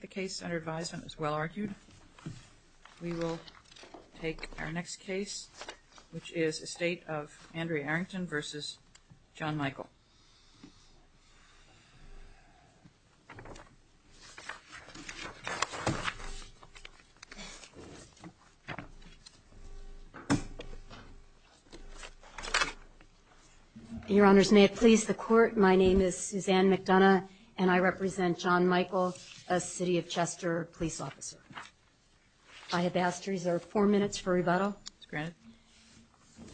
The case under advisement is well-argued. We will take our next case, which is Estate of Andrea Arrington v. John Michael. Your Honors, may it please the Court, my name is Suzanne McDonough, and I represent John Michael, a City of Chester police officer. I have asked to reserve four minutes for rebuttal.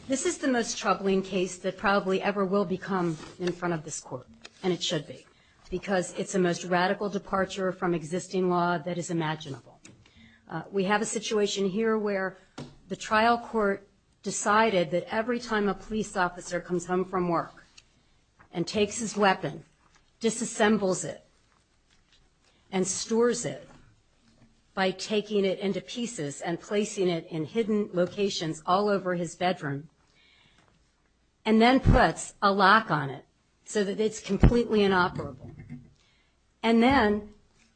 This is the most troubling case that probably ever will become in front of this Court, and it should be, because it's the most radical departure from existing law that is imaginable. We have a situation here where the trial court decided that every time a police officer comes home from work and takes his weapon, disassembles it, and stores it by taking it into pieces and placing it in hidden locations all over his bedroom, and then puts a lock on it so that it's completely inoperable, and then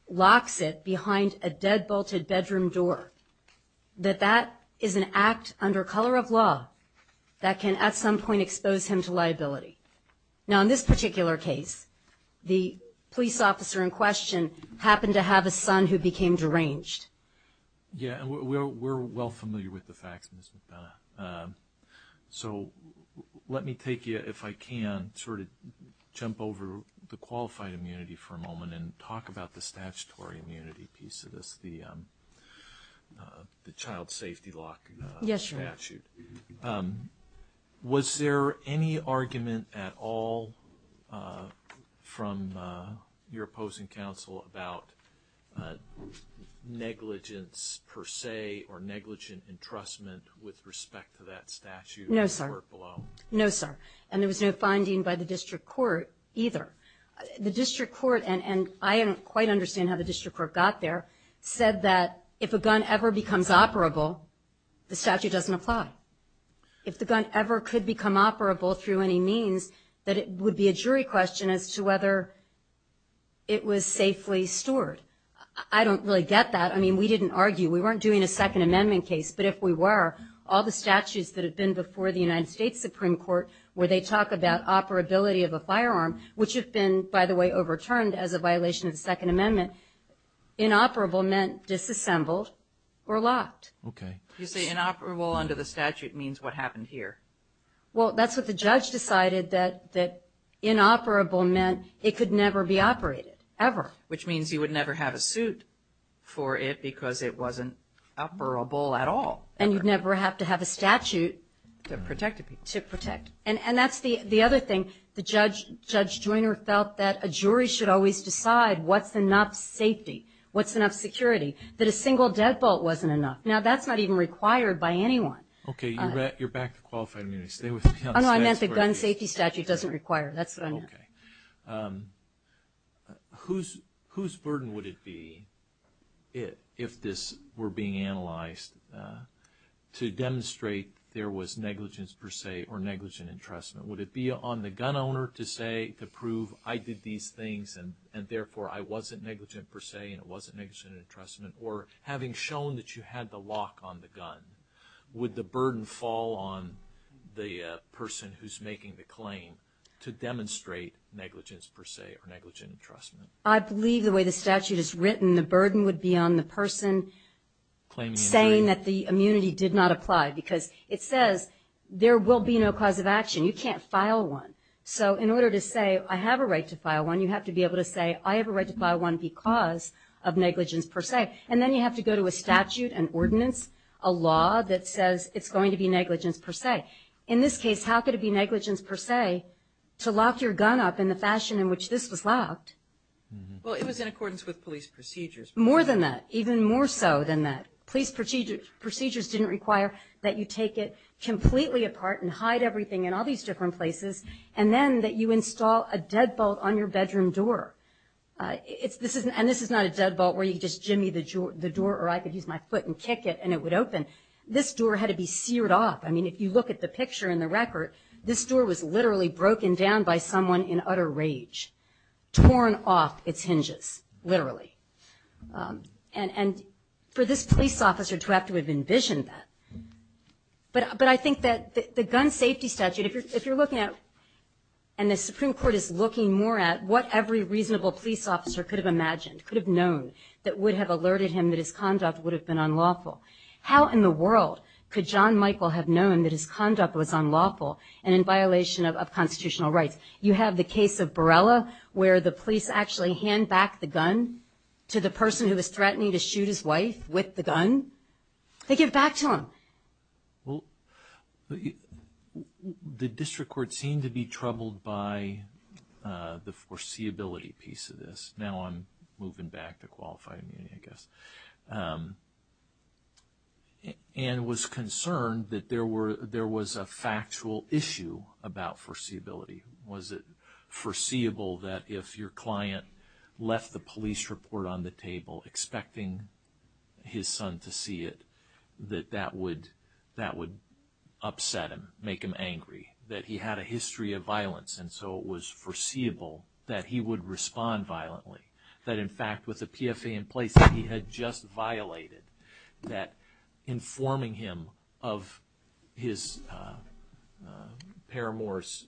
locks it behind a deadbolted bedroom door, that that is an act under color of law that can at some point expose him to liability. Now, in this particular case, the police officer in question happened to have a son who became deranged. Yeah, and we're well familiar with the facts, Ms. McDonough. So let me take you, if I can, sort of jump over the qualified immunity for a moment and talk about the statutory immunity piece of this, the child safety lock statute. Yes, Your Honor. Was there any argument at all from your opposing counsel about negligence per se or negligent entrustment with respect to that statute? No, sir. No, sir. And there was no finding by the district court either. The district court, and I don't quite understand how the district court got there, said that if a gun ever becomes operable, the statute doesn't apply. If the gun ever could become operable through any means, that it would be a jury question as to whether it was safely stored. I don't really get that. I mean, we didn't argue. We weren't doing a Second Amendment case, but if we were, all the statutes that have been before the United States Supreme Court, where they talk about operability of a firearm, which have been, by the way, overturned as a violation of the Second Amendment, inoperable meant disassembled or locked. Okay. You say inoperable under the statute means what happened here. Well, that's what the judge decided, that inoperable meant it could never be operated, ever. Which means you would never have a suit for it because it wasn't operable at all. And you'd never have to have a statute. To protect it. To protect. And that's the other thing. The judge, Judge Joyner, felt that a jury should always decide what's enough safety, what's enough security. That a single deadbolt wasn't enough. Now, that's not even required by anyone. Okay. You're back to qualified immunity. Stay with me on this. Oh, no, I meant the gun safety statute doesn't require it. That's what I meant. Okay. Whose burden would it be, if this were being analyzed, to demonstrate there was negligence per se or negligent entrustment? Would it be on the gun owner to say, to prove I did these things and, therefore, I wasn't negligent per se and it wasn't negligent entrustment? Or, having shown that you had the lock on the gun, would the burden fall on the person who's making the claim to demonstrate negligence per se or negligent entrustment? I believe the way the statute is written, the burden would be on the person saying that the immunity did not apply. Because it says there will be no cause of action. You can't file one. So, in order to say, I have a right to file one, you have to be able to say, I have a right to file one because of negligence per se. And then you have to go to a statute, an ordinance, a law that says it's going to be negligence per se. In this case, how could it be negligence per se to lock your gun up in the fashion in which this was locked? Well, it was in accordance with police procedures. More than that. Even more so than that. Police procedures didn't require that you take it completely apart and hide everything in all these different places and then that you install a deadbolt on your bedroom door. And this is not a deadbolt where you just jimmy the door or I could use my foot and kick it and it would open. This door had to be seared off. I mean, if you look at the picture in the record, this door was literally broken down by someone in utter rage. Torn off its hinges. Literally. And for this police officer to have to have envisioned that. But I think that the gun safety statute, if you're looking at, and the Supreme Court is looking more at what every reasonable police officer could have imagined, could have known, that would have alerted him that his conduct would have been unlawful. How in the world could John Michael have known that his conduct was unlawful and in violation of constitutional rights? You have the case of Borrella where the police actually hand back the gun to the person who was threatening to shoot his wife with the gun. They give it back to him. Well, the district court seemed to be troubled by the foreseeability piece of this. Now I'm moving back to qualified immunity, I guess. And was concerned that there was a factual issue about foreseeability. Was it foreseeable that if your client left the police report on the table expecting his son to see it, that that would upset him, make him angry? That he had a history of violence and so it was foreseeable that he would respond violently? That in fact with the PFA in place that he had just violated, that informing him of his paramours,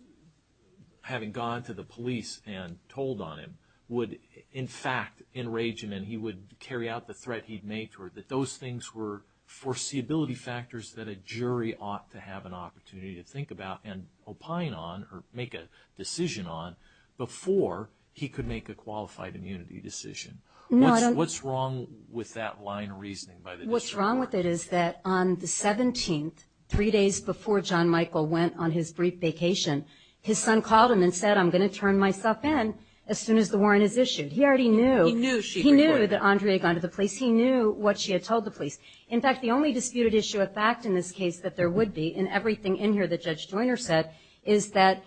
having gone to the police and told on him, would in fact enrage him and he would carry out the threat he'd made? That those things were foreseeability factors that a jury ought to have an opportunity to think about and opine on or make a decision on before he could make a qualified immunity decision? What's wrong with that line of reasoning by the district court? What's wrong with it is that on the 17th, three days before John Michael went on his brief vacation, his son called him and said, I'm going to turn myself in as soon as the warrant is issued. He already knew that Andre had gone to the police. He knew what she had told the police. In fact, the only disputed issue of fact in this case that there would be in everything in here that Judge Joyner said is that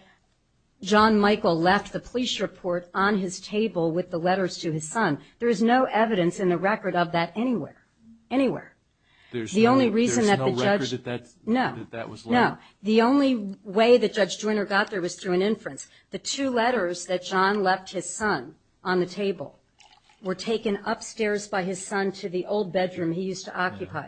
John Michael left the police report on his table with the letters to his son. There is no evidence in the record of that anywhere. Anywhere. There's no record that that was later? No. No. The only way that Judge Joyner got there was through an inference. The two letters that John left his son on the table were taken upstairs by his son to the old bedroom he used to occupy.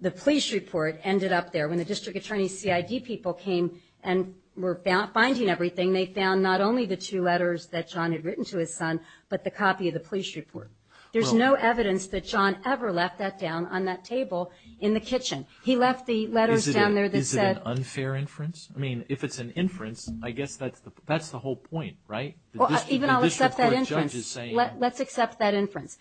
The police report ended up there. When the district attorney CID people came and were finding everything, they found not only the two letters that John had written to his son, but the copy of the police report. There's no evidence that John ever left that down on that table in the kitchen. He left the letters down there that said... Is it an unfair inference? I mean, if it's an inference, I guess that's the whole point, right? Even though I accept that inference. Let's accept that inference.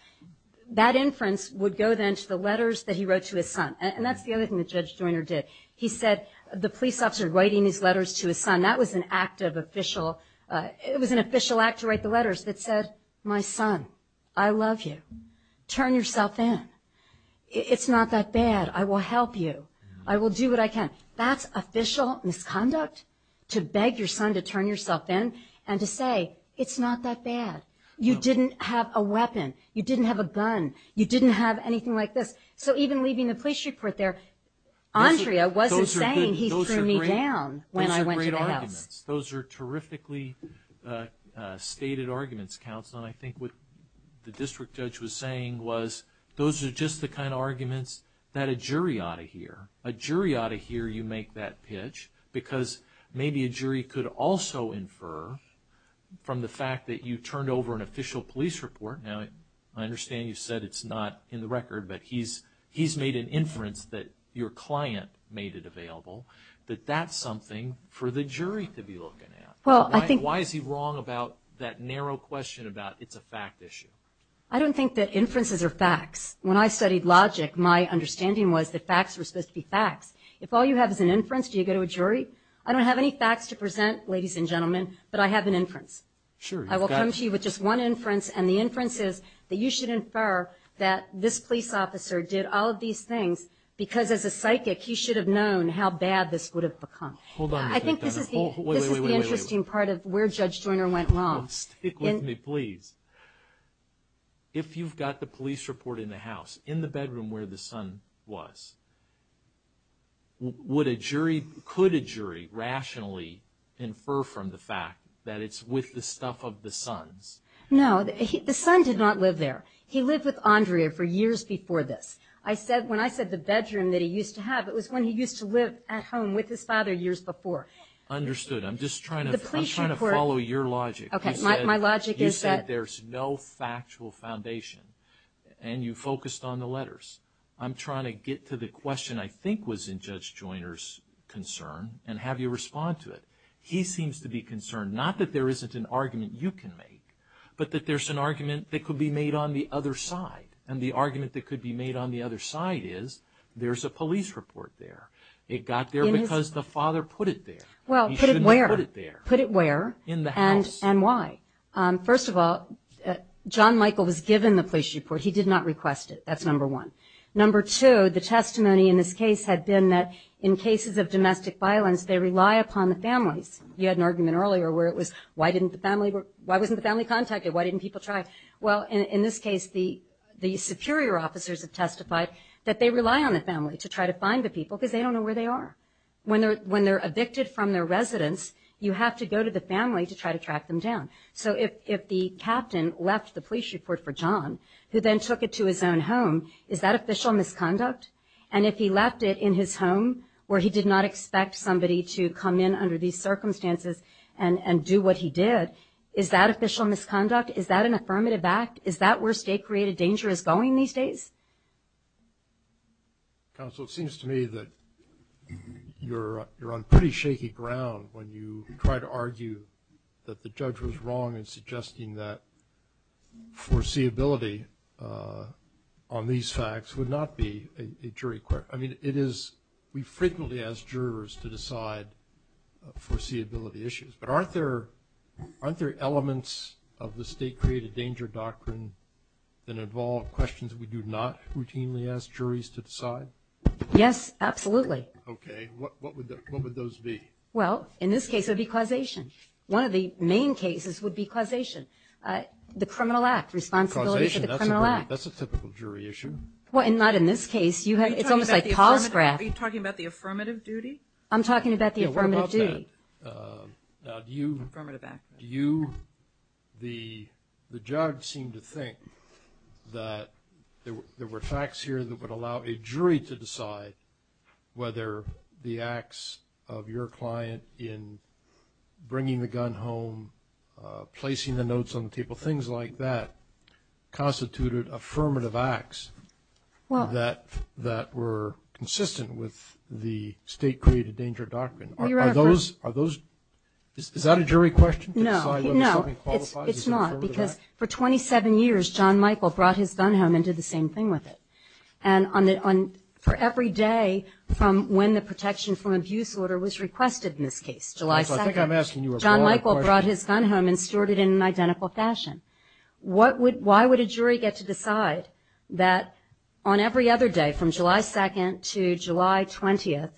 That inference would go then to the letters that he wrote to his son. And that's the other thing that Judge Joyner did. He said the police officer writing these letters to his son, that was an act of official, it was an official act to write the letters that said, My son, I love you. Turn yourself in. It's not that bad. I will help you. I will do what I can. That's official misconduct to beg your son to turn yourself in and to say, It's not that bad. You didn't have a weapon. You didn't have a gun. You didn't have anything like this. So even leaving the police report there, Andrea wasn't saying he threw me down when I went to the house. Those are terrifically stated arguments, counsel, and I think what the district judge was saying was those are just the kind of A jury ought to hear you make that pitch because maybe a jury could also infer from the fact that you turned over an official police report. Now, I understand you said it's not in the record, but he's made an inference that your client made it available, that that's something for the jury to be looking at. Why is he wrong about that narrow question about it's a fact issue? I don't think that inferences are facts. When I studied logic, my understanding was that facts were supposed to be facts. If all you have is an inference, do you go to a jury? I don't have any facts to present, ladies and gentlemen, but I have an inference. I will come to you with just one inference, and the inference is that you should infer that this police officer did all of these things because as a psychic he should have known how bad this would have become. I think this is the interesting part of where Judge Joyner went wrong. Stick with me, please. If you've got the police report in the house, in the bedroom where the son was, could a jury rationally infer from the fact that it's with the stuff of the sons? No. The son did not live there. He lived with Andrea for years before this. When I said the bedroom that he used to have, it was when he used to live at home with his father years before. Understood. I'm just trying to follow your logic. You said there's no factual foundation, and you focused on the letters. I'm trying to get to the question I think was in Judge Joyner's concern and have you respond to it. He seems to be concerned not that there isn't an argument you can make, but that there's an argument that could be made on the other side, and the argument that could be made on the other side is there's a police report there. It got there because the father put it there. He shouldn't have put it there. Put it where? In the house. And why? First of all, John Michael was given the police report. He did not request it. That's number one. Number two, the testimony in this case had been that in cases of domestic violence, they rely upon the families. You had an argument earlier where it was why wasn't the family contacted? Why didn't people try? Well, in this case, the superior officers have testified that they rely on the family to try to find the people because they don't know where they are. When they're evicted from their residence, you have to go to the family to try to track them down. So if the captain left the police report for John, who then took it to his own home, is that official misconduct? And if he left it in his home where he did not expect somebody to come in under these circumstances and do what he did, is that official misconduct? Is that an affirmative act? Is that where state-created danger is going these days? Counsel, it seems to me that you're on pretty shaky ground when you try to argue that the judge was wrong in suggesting that foreseeability on these facts would not be a jury question. I mean, it is we frequently ask jurors to decide foreseeability issues. But aren't there elements of the state-created danger doctrine that involve questions that we do not routinely ask juries to decide? Yes, absolutely. Okay. What would those be? Well, in this case, it would be causation. One of the main cases would be causation, the criminal act, responsibility for the criminal act. Causation, that's a typical jury issue. Well, not in this case. It's almost like Paul's graph. Are you talking about the affirmative duty? I'm talking about the affirmative duty. Yeah, what about that? Now, do you – Affirmative act. The judge seemed to think that there were facts here that would allow a jury to decide whether the acts of your client in bringing the gun home, placing the notes on the table, things like that constituted affirmative acts that were consistent with the state-created danger doctrine. Are those – No, it's not, because for 27 years, John Michael brought his gun home and did the same thing with it. And for every day from when the protection from abuse order was requested in this case, July 2nd, John Michael brought his gun home and stewarded it in an identical fashion. Why would a jury get to decide that on every other day from July 2nd to July 20th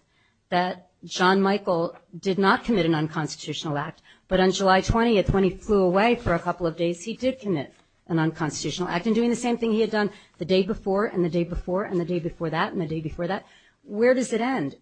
that John Michael did not commit an unconstitutional act, but on July 20th, when he flew away for a couple of days, he did commit an unconstitutional act in doing the same thing he had done the day before and the day before and the day before that and the day before that? Where does it end?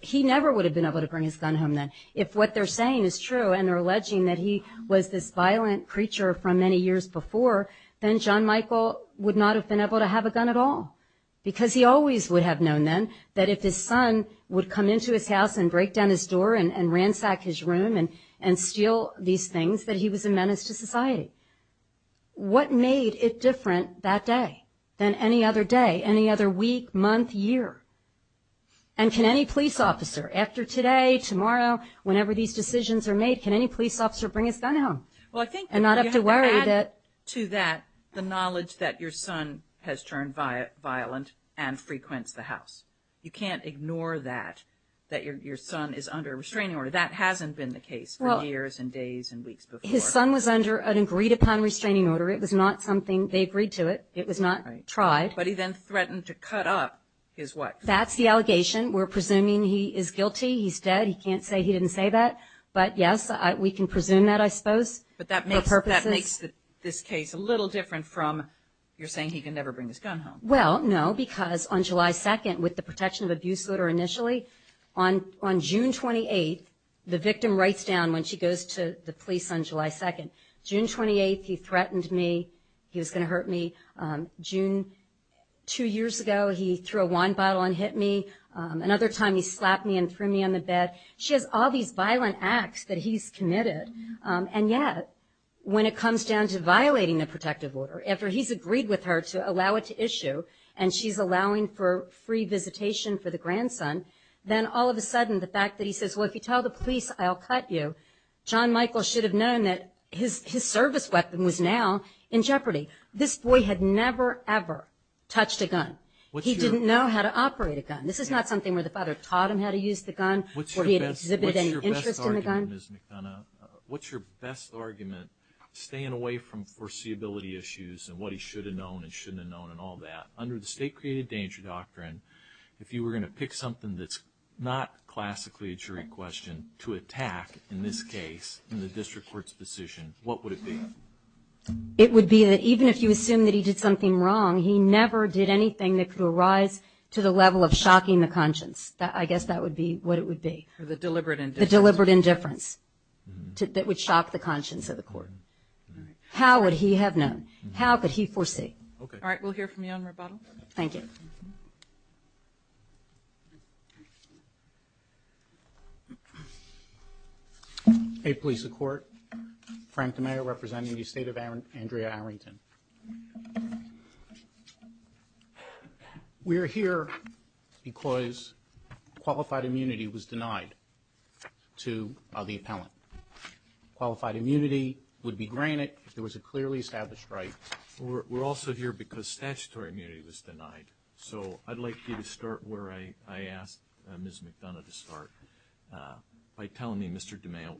He never would have been able to bring his gun home then. If what they're saying is true and they're alleging that he was this violent creature from many years before, then John Michael would not have been able to have a gun at all, because he always would have known then that if his son would come into his house and break down his door and ransack his room and steal these things, that he was a menace to society. What made it different that day than any other day, any other week, month, year? And can any police officer, after today, tomorrow, whenever these decisions are made, can any police officer bring his gun home? And not have to worry that – You can't ignore that, that your son is under a restraining order. That hasn't been the case for years and days and weeks before. His son was under an agreed-upon restraining order. It was not something – they agreed to it. It was not tried. But he then threatened to cut up his what? That's the allegation. We're presuming he is guilty. He's dead. He can't say he didn't say that. But, yes, we can presume that, I suppose, for purposes. But that makes this case a little different from you're saying he can never bring his gun home. Well, no, because on July 2nd, with the protection of abuse order initially, on June 28th, the victim writes down when she goes to the police on July 2nd, June 28th, he threatened me. He was going to hurt me. June – two years ago, he threw a wine bottle and hit me. Another time, he slapped me and threw me on the bed. She has all these violent acts that he's committed. And yet, when it comes down to violating the protective order, after he's agreed with her to allow it to issue and she's allowing for free visitation for the grandson, then all of a sudden the fact that he says, well, if you tell the police, I'll cut you, John Michael should have known that his service weapon was now in jeopardy. This boy had never, ever touched a gun. He didn't know how to operate a gun. This is not something where the father taught him how to use the gun What's your best argument, Ms. McDonough? and what he should have known and shouldn't have known and all that. Under the state-created danger doctrine, if you were going to pick something that's not classically a jury question to attack, in this case, in the district court's position, what would it be? It would be that even if you assume that he did something wrong, he never did anything that could arise to the level of shocking the conscience. I guess that would be what it would be. The deliberate indifference. The deliberate indifference that would shock the conscience of the court. How would he have known? How could he foresee? All right. We'll hear from you on rebuttal. Thank you. Hey, police and court. Frank DiMera representing the state of Andrea Arrington. We're here because qualified immunity was denied to the appellant. Qualified immunity would be granted if there was a clearly established right. We're also here because statutory immunity was denied. So I'd like you to start where I asked Ms. McDonough to start by telling me, Mr. DiMera,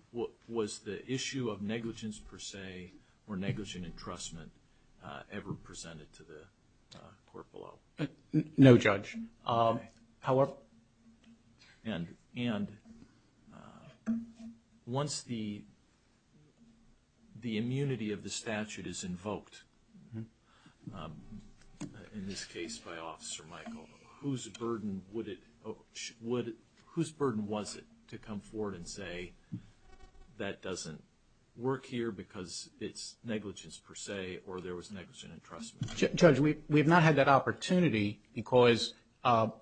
was the issue of negligence per se or negligent entrustment ever presented to the court below? No, Judge. However... And once the immunity of the statute is invoked, in this case by Officer Michael, whose burden was it to come forward and say, that doesn't work here because it's negligence per se or there was negligent entrustment? Judge, we have not had that opportunity because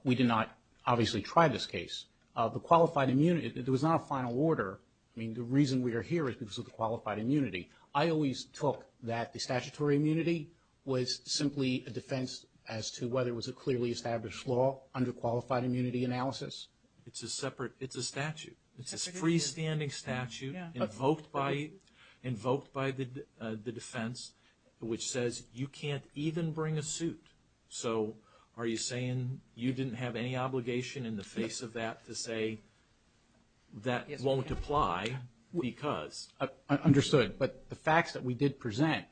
we did not obviously try this case. The qualified immunity, it was not a final order. I mean, the reason we are here is because of the qualified immunity. I always took that the statutory immunity was simply a defense as to whether it was a clearly established law under qualified immunity analysis. It's a separate, it's a statute. It's a freestanding statute invoked by the defense, which says you can't even bring a suit. So are you saying you didn't have any obligation in the face of that to say that won't apply because... Understood. But the facts that we did present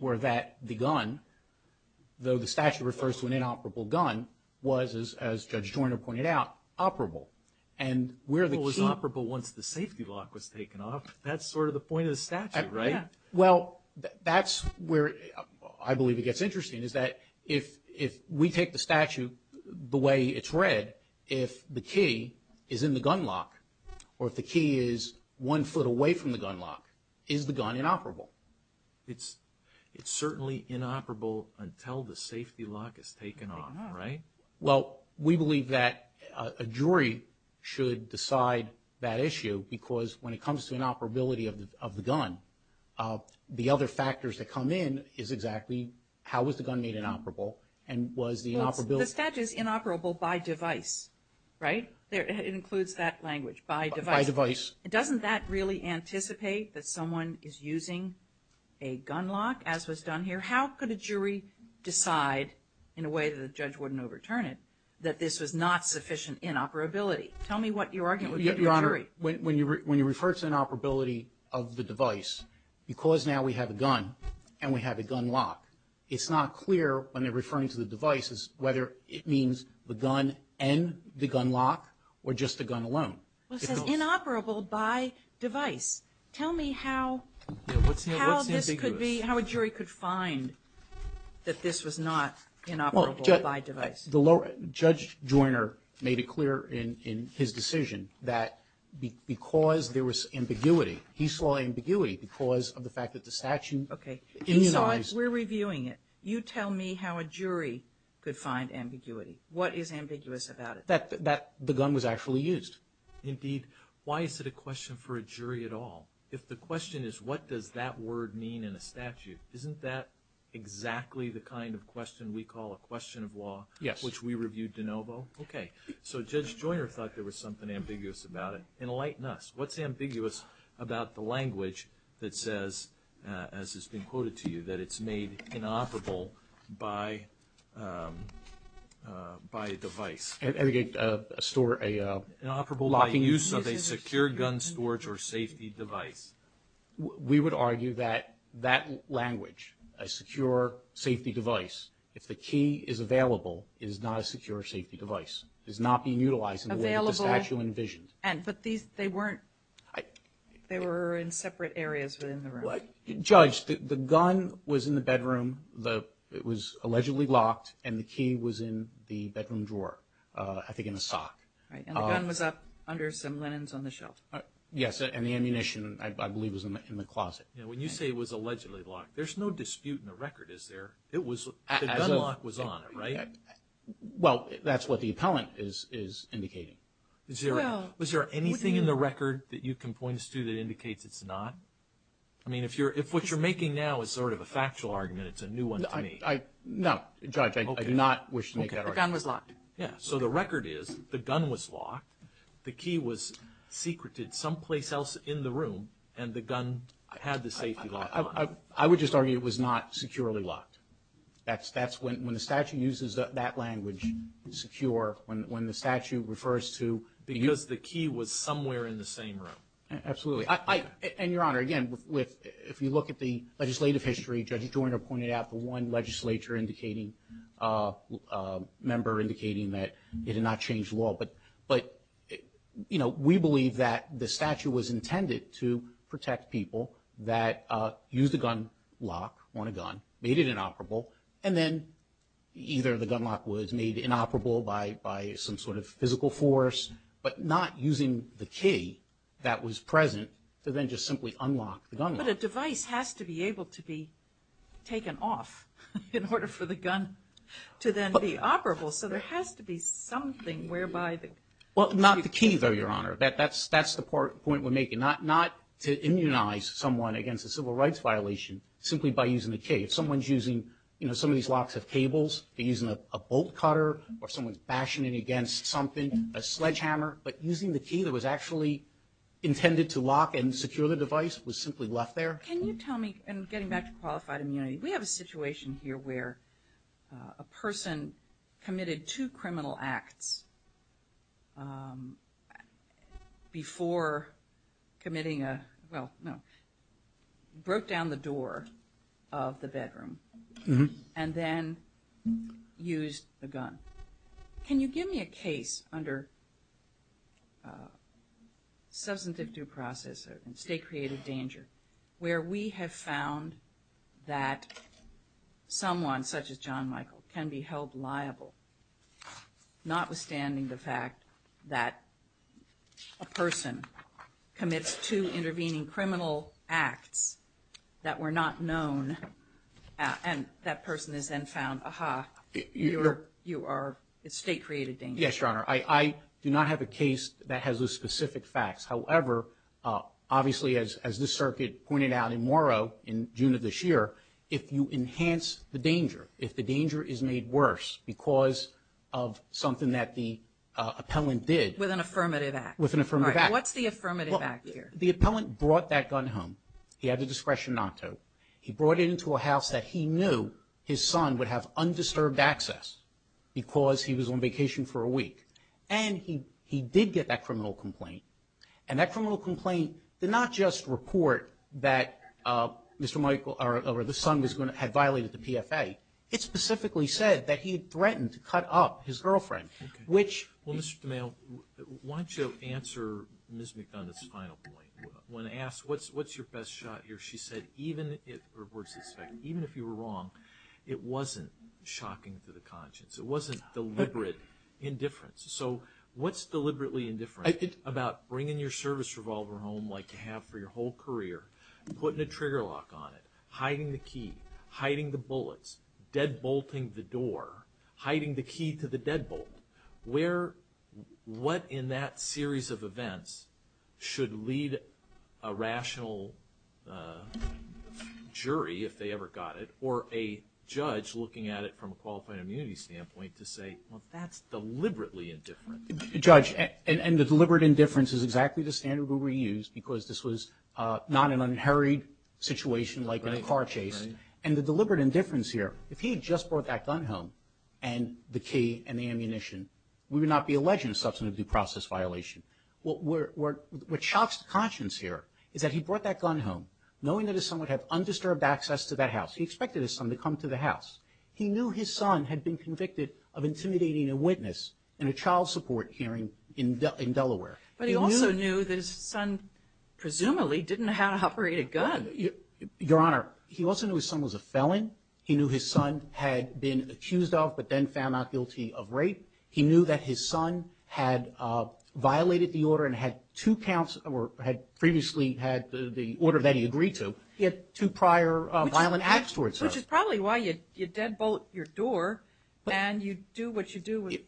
were that the gun, though the statute refers to an inoperable gun, was, as Judge Joyner pointed out, operable. And where the key... Well, it was operable once the safety lock was taken off. That's sort of the point of the statute, right? Yeah. Well, that's where I believe it gets interesting, is that if we take the statute the way it's read, if the key is in the gun lock or if the key is one foot away from the gun lock, is the gun inoperable? It's certainly inoperable until the safety lock is taken off, right? Well, we believe that a jury should decide that issue because when it comes to the inoperability of the gun, the other factors that come in is exactly how was the gun made inoperable and was the inoperability... Well, the statute is inoperable by device, right? It includes that language, by device. By device. Doesn't that really anticipate that someone is using a gun lock, as was done here? How could a jury decide, in a way that a judge wouldn't overturn it, that this was not sufficient inoperability? Tell me what your argument would be to a jury. When you refer to inoperability of the device, because now we have a gun and we have a gun lock, it's not clear when they're referring to the device as whether it means the gun and the gun lock or just the gun alone. Well, it says inoperable by device. Tell me how this could be, how a jury could find that this was not inoperable by device. Judge Joyner made it clear in his decision that because there was ambiguity, he saw ambiguity because of the fact that the statute... Okay, he saw it, we're reviewing it. You tell me how a jury could find ambiguity. What is ambiguous about it? That the gun was actually used. Indeed. Why is it a question for a jury at all? If the question is what does that word mean in a statute, isn't that exactly the kind of question we call a question of law? Yes. Which we reviewed de novo. Okay. So Judge Joyner thought there was something ambiguous about it. Enlighten us. What's ambiguous about the language that says, as has been quoted to you, that it's made inoperable by a device? Inoperable by use of a secure gun storage or safety device. We would argue that that language, a secure safety device, if the key is available, is not a secure safety device, is not being utilized in the way that the statute envisioned. Available. But they were in separate areas within the room. Judge, the gun was in the bedroom, it was allegedly locked, and the key was in the bedroom drawer, I think in a sock. And the gun was up under some linens on the shelf. Yes, and the ammunition, I believe, was in the closet. When you say it was allegedly locked, there's no dispute in the record, is there? The gun lock was on it, right? Well, that's what the appellant is indicating. Was there anything in the record that you can point us to that indicates it's not? I mean, if what you're making now is sort of a factual argument, it's a new one to me. No, Judge, I do not wish to make that argument. The gun was locked. Yes, so the record is the gun was locked, the key was secreted someplace else in the room, and the gun had the safety lock on it. I would just argue it was not securely locked. That's when the statute uses that language, secure, when the statute refers to the key. Because the key was somewhere in the same room. Absolutely. And, Your Honor, again, if you look at the legislative history, Judge Joyner pointed out the one legislature member indicating that it had not changed law. But, you know, we believe that the statute was intended to protect people that used a gun lock on a gun, made it inoperable, and then either the gun lock was made inoperable by some sort of physical force, but not using the key that was present to then just simply unlock the gun lock. But a device has to be able to be taken off in order for the gun to then be operable. So there has to be something whereby the- Well, not the key, though, Your Honor. That's the point we're making. Not to immunize someone against a civil rights violation simply by using the key. If someone's using, you know, some of these locks have cables, they're using a bolt cutter, or someone's bashing it against something, a sledgehammer, but using the key that was actually intended to lock and secure the device was simply left there. Can you tell me, and getting back to qualified immunity, we have a situation here where a person committed two criminal acts before committing a- well, no, broke down the door of the bedroom and then used the gun. Can you give me a case under substantive due process and state-created danger where we have found that someone such as John Michael can be held liable, notwithstanding the fact that a person commits two intervening criminal acts that were not known, and that person is then found, aha, you are- it's state-created danger. Yes, Your Honor. I do not have a case that has those specific facts. However, obviously, as this circuit pointed out in Morrow in June of this year, if you enhance the danger, if the danger is made worse because of something that the appellant did- With an affirmative act. With an affirmative act. All right, what's the affirmative act here? The appellant brought that gun home. He had the discretion not to. He brought it into a house that he knew his son would have undisturbed access because he was on vacation for a week. And he did get that criminal complaint. And that criminal complaint did not just report that Mr. Michael or the son had violated the PFA. It specifically said that he had threatened to cut up his girlfriend, which- Well, Mr. DeMaio, why don't you answer Ms. McDonough's final point? When asked, what's your best shot here, she said, even if- or worse, even if you were wrong, it wasn't shocking to the conscience. It wasn't deliberate indifference. So what's deliberately indifferent about bringing your service revolver home, like you have for your whole career, putting a trigger lock on it, hiding the key, hiding the bullets, deadbolting the door, hiding the key to the deadbolt? Where- what in that series of events should lead a rational jury, if they ever got it, or a judge looking at it from a qualified immunity standpoint to say, well, that's deliberately indifferent. Judge, and the deliberate indifference is exactly the standard we reuse because this was not an unhurried situation like in a car chase. And the deliberate indifference here, if he had just brought that gun home and the key and the ammunition, we would not be alleging a substantive due process violation. What shocks the conscience here is that he brought that gun home knowing that his son would have undisturbed access to that house. He expected his son to come to the house. He knew his son had been convicted of intimidating a witness in a child support hearing in Delaware. But he also knew that his son presumably didn't know how to operate a gun. Your Honor, he also knew his son was a felon. He knew his son had been accused of but then found not guilty of rape. He knew that his son had violated the order and had two counts or had previously had the order that he agreed to. He had two prior violent acts towards us. Which is probably why you deadbolt your door and you do what you do with it.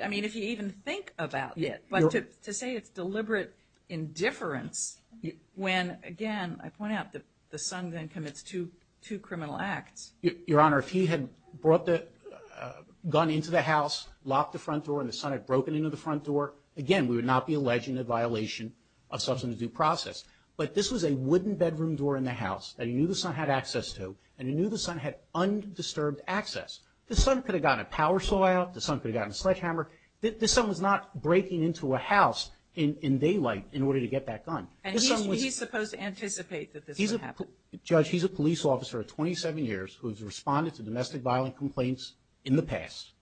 I mean, if you even think about it. But to say it's deliberate indifference when, again, I point out that the son then commits two criminal acts. Your Honor, if he had brought the gun into the house, locked the front door and the son had broken into the front door, again, we would not be alleging a violation of substantive due process. But this was a wooden bedroom door in the house that he knew the son had access to and he knew the son had undisturbed access. The son could have gotten a power saw out. The son could have gotten a sledgehammer. The son was not breaking into a house in daylight in order to get that gun. And he's supposed to anticipate that this would happen. Judge, he's a police officer of 27 years who has responded to domestic violent complaints in the past.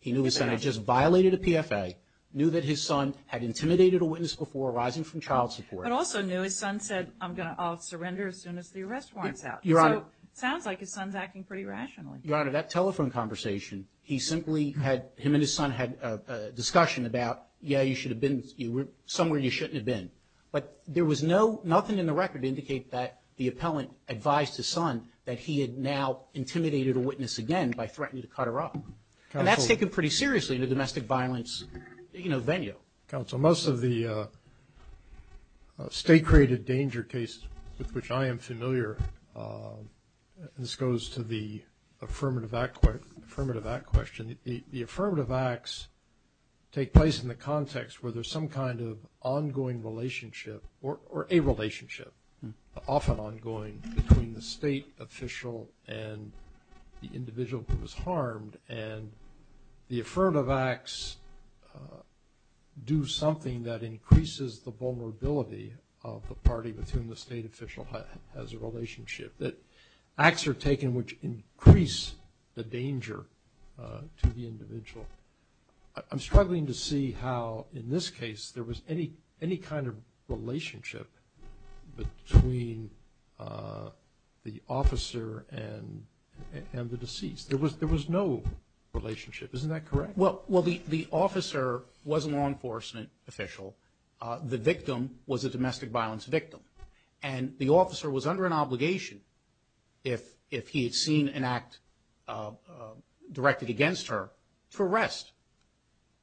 He knew his son had just violated a PFA, knew that his son had intimidated a witness before arising from child support. But also knew his son said, I'll surrender as soon as the arrest warrant's out. Your Honor. So it sounds like his son's acting pretty rationally. Your Honor, that telephone conversation, he simply had him and his son had a discussion about, yeah, you should have been somewhere you shouldn't have been. But there was nothing in the record to indicate that the appellant advised his son that he had now intimidated a witness again by threatening to cut her off. And that's taken pretty seriously in a domestic violence, you know, venue. Counsel, most of the state-created danger case with which I am familiar, this goes to the affirmative act question. The affirmative acts take place in the context where there's some kind of ongoing relationship or a relationship, often ongoing, and the affirmative acts do something that increases the vulnerability of the party with whom the state official has a relationship. Acts are taken which increase the danger to the individual. I'm struggling to see how, in this case, there was any kind of relationship between the officer and the deceased. There was no relationship. Isn't that correct? Well, the officer was a law enforcement official. The victim was a domestic violence victim. And the officer was under an obligation, if he had seen an act directed against her, to arrest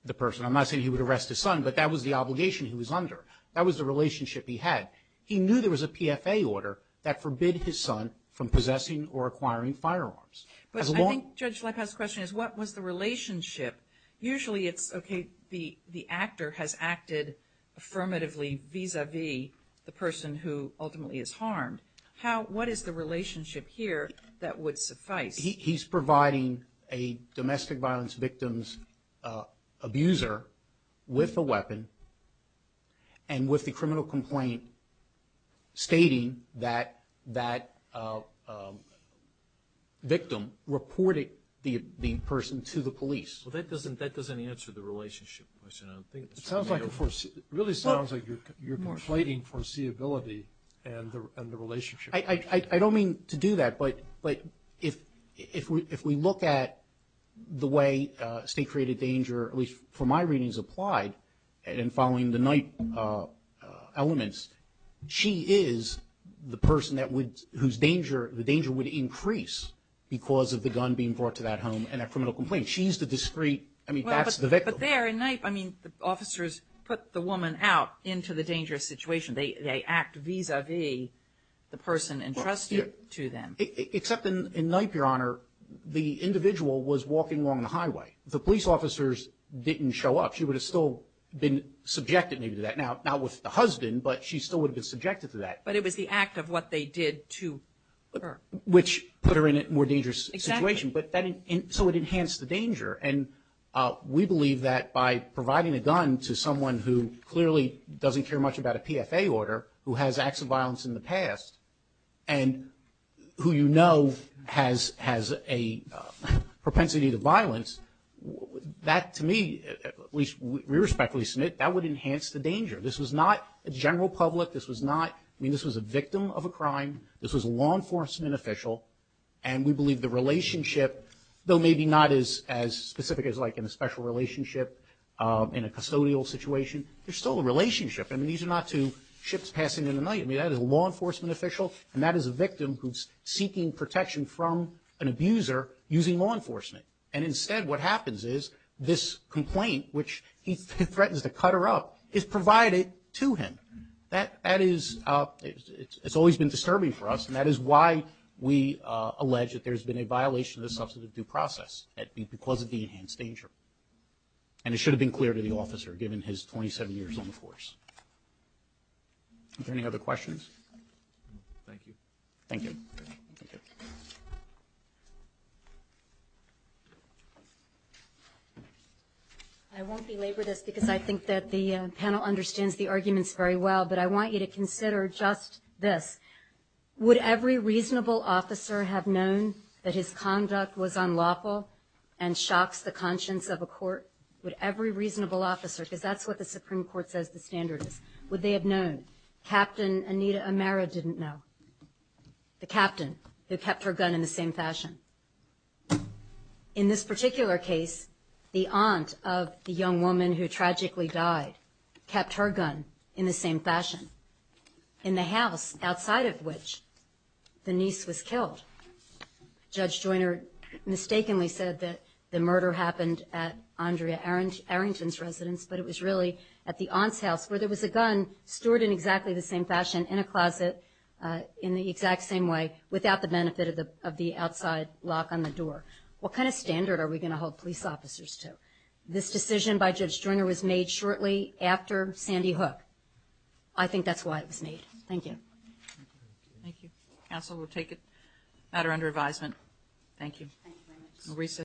the person. I'm not saying he would arrest his son, but that was the obligation he was under. That was the relationship he had. He knew there was a PFA order that forbid his son from possessing or acquiring firearms. But I think Judge Lippa's question is, what was the relationship? Usually it's, okay, the actor has acted affirmatively vis-a-vis the person who ultimately is harmed. What is the relationship here that would suffice? He's providing a domestic violence victim's abuser with a weapon and with the criminal complaint stating that that victim reported the person to the police. Well, that doesn't answer the relationship question, I don't think. It really sounds like you're conflating foreseeability and the relationship. I don't mean to do that, but if we look at the way state-created danger, at least from my readings applied, and following the Knipe elements, she is the person whose danger would increase because of the gun being brought to that home and that criminal complaint. She's the discreet, I mean, that's the victim. But there in Knipe, I mean, the officers put the woman out into the dangerous situation. They act vis-a-vis the person entrusted to them. Except in Knipe, Your Honor, the individual was walking along the highway. The police officers didn't show up. She would have still been subjected maybe to that. Now, not with the husband, but she still would have been subjected to that. But it was the act of what they did to her. Which put her in a more dangerous situation. Exactly. So it enhanced the danger. And we believe that by providing a gun to someone who clearly doesn't care much about a PFA order, who has acts of violence in the past, and who you know has a propensity to violence, that to me, at least we respectfully submit, that would enhance the danger. This was not a general public. This was not, I mean, this was a victim of a crime. This was a law enforcement official. And we believe the relationship, though maybe not as specific as like in a special relationship, in a custodial situation, there's still a relationship. I mean, these are not two ships passing in the night. I mean, that is a law enforcement official, and that is a victim who's seeking protection from an abuser using law enforcement. And instead what happens is this complaint, which he threatens to cut her up, is provided to him. That is, it's always been disturbing for us, and that is why we allege that there's been a violation of the substantive due process, because of the enhanced danger. And it should have been clear to the officer, given his 27 years on the force. Are there any other questions? Thank you. Thank you. I won't belabor this, because I think that the panel understands the arguments very well, but I want you to consider just this. Would every reasonable officer have known that his conduct was unlawful and shocks the conscience of a court? Would every reasonable officer, because that's what the Supreme Court says the standard is, would they have known? Captain Anita Amaro didn't know. The captain who kept her gun in the same fashion. In this particular case, the aunt of the young woman who tragically died kept her gun in the same fashion. In the house outside of which the niece was killed, Judge Joyner mistakenly said that the murder happened at Andrea Arrington's residence, but it was really at the aunt's house, where there was a gun stored in exactly the same fashion, in a closet, in the exact same way, without the benefit of the outside lock on the door. What kind of standard are we going to hold police officers to? This decision by Judge Joyner was made shortly after Sandy Hook. I think that's why it was made. Thank you. Thank you. Counsel, we'll take it. The matter under advisement. Thank you.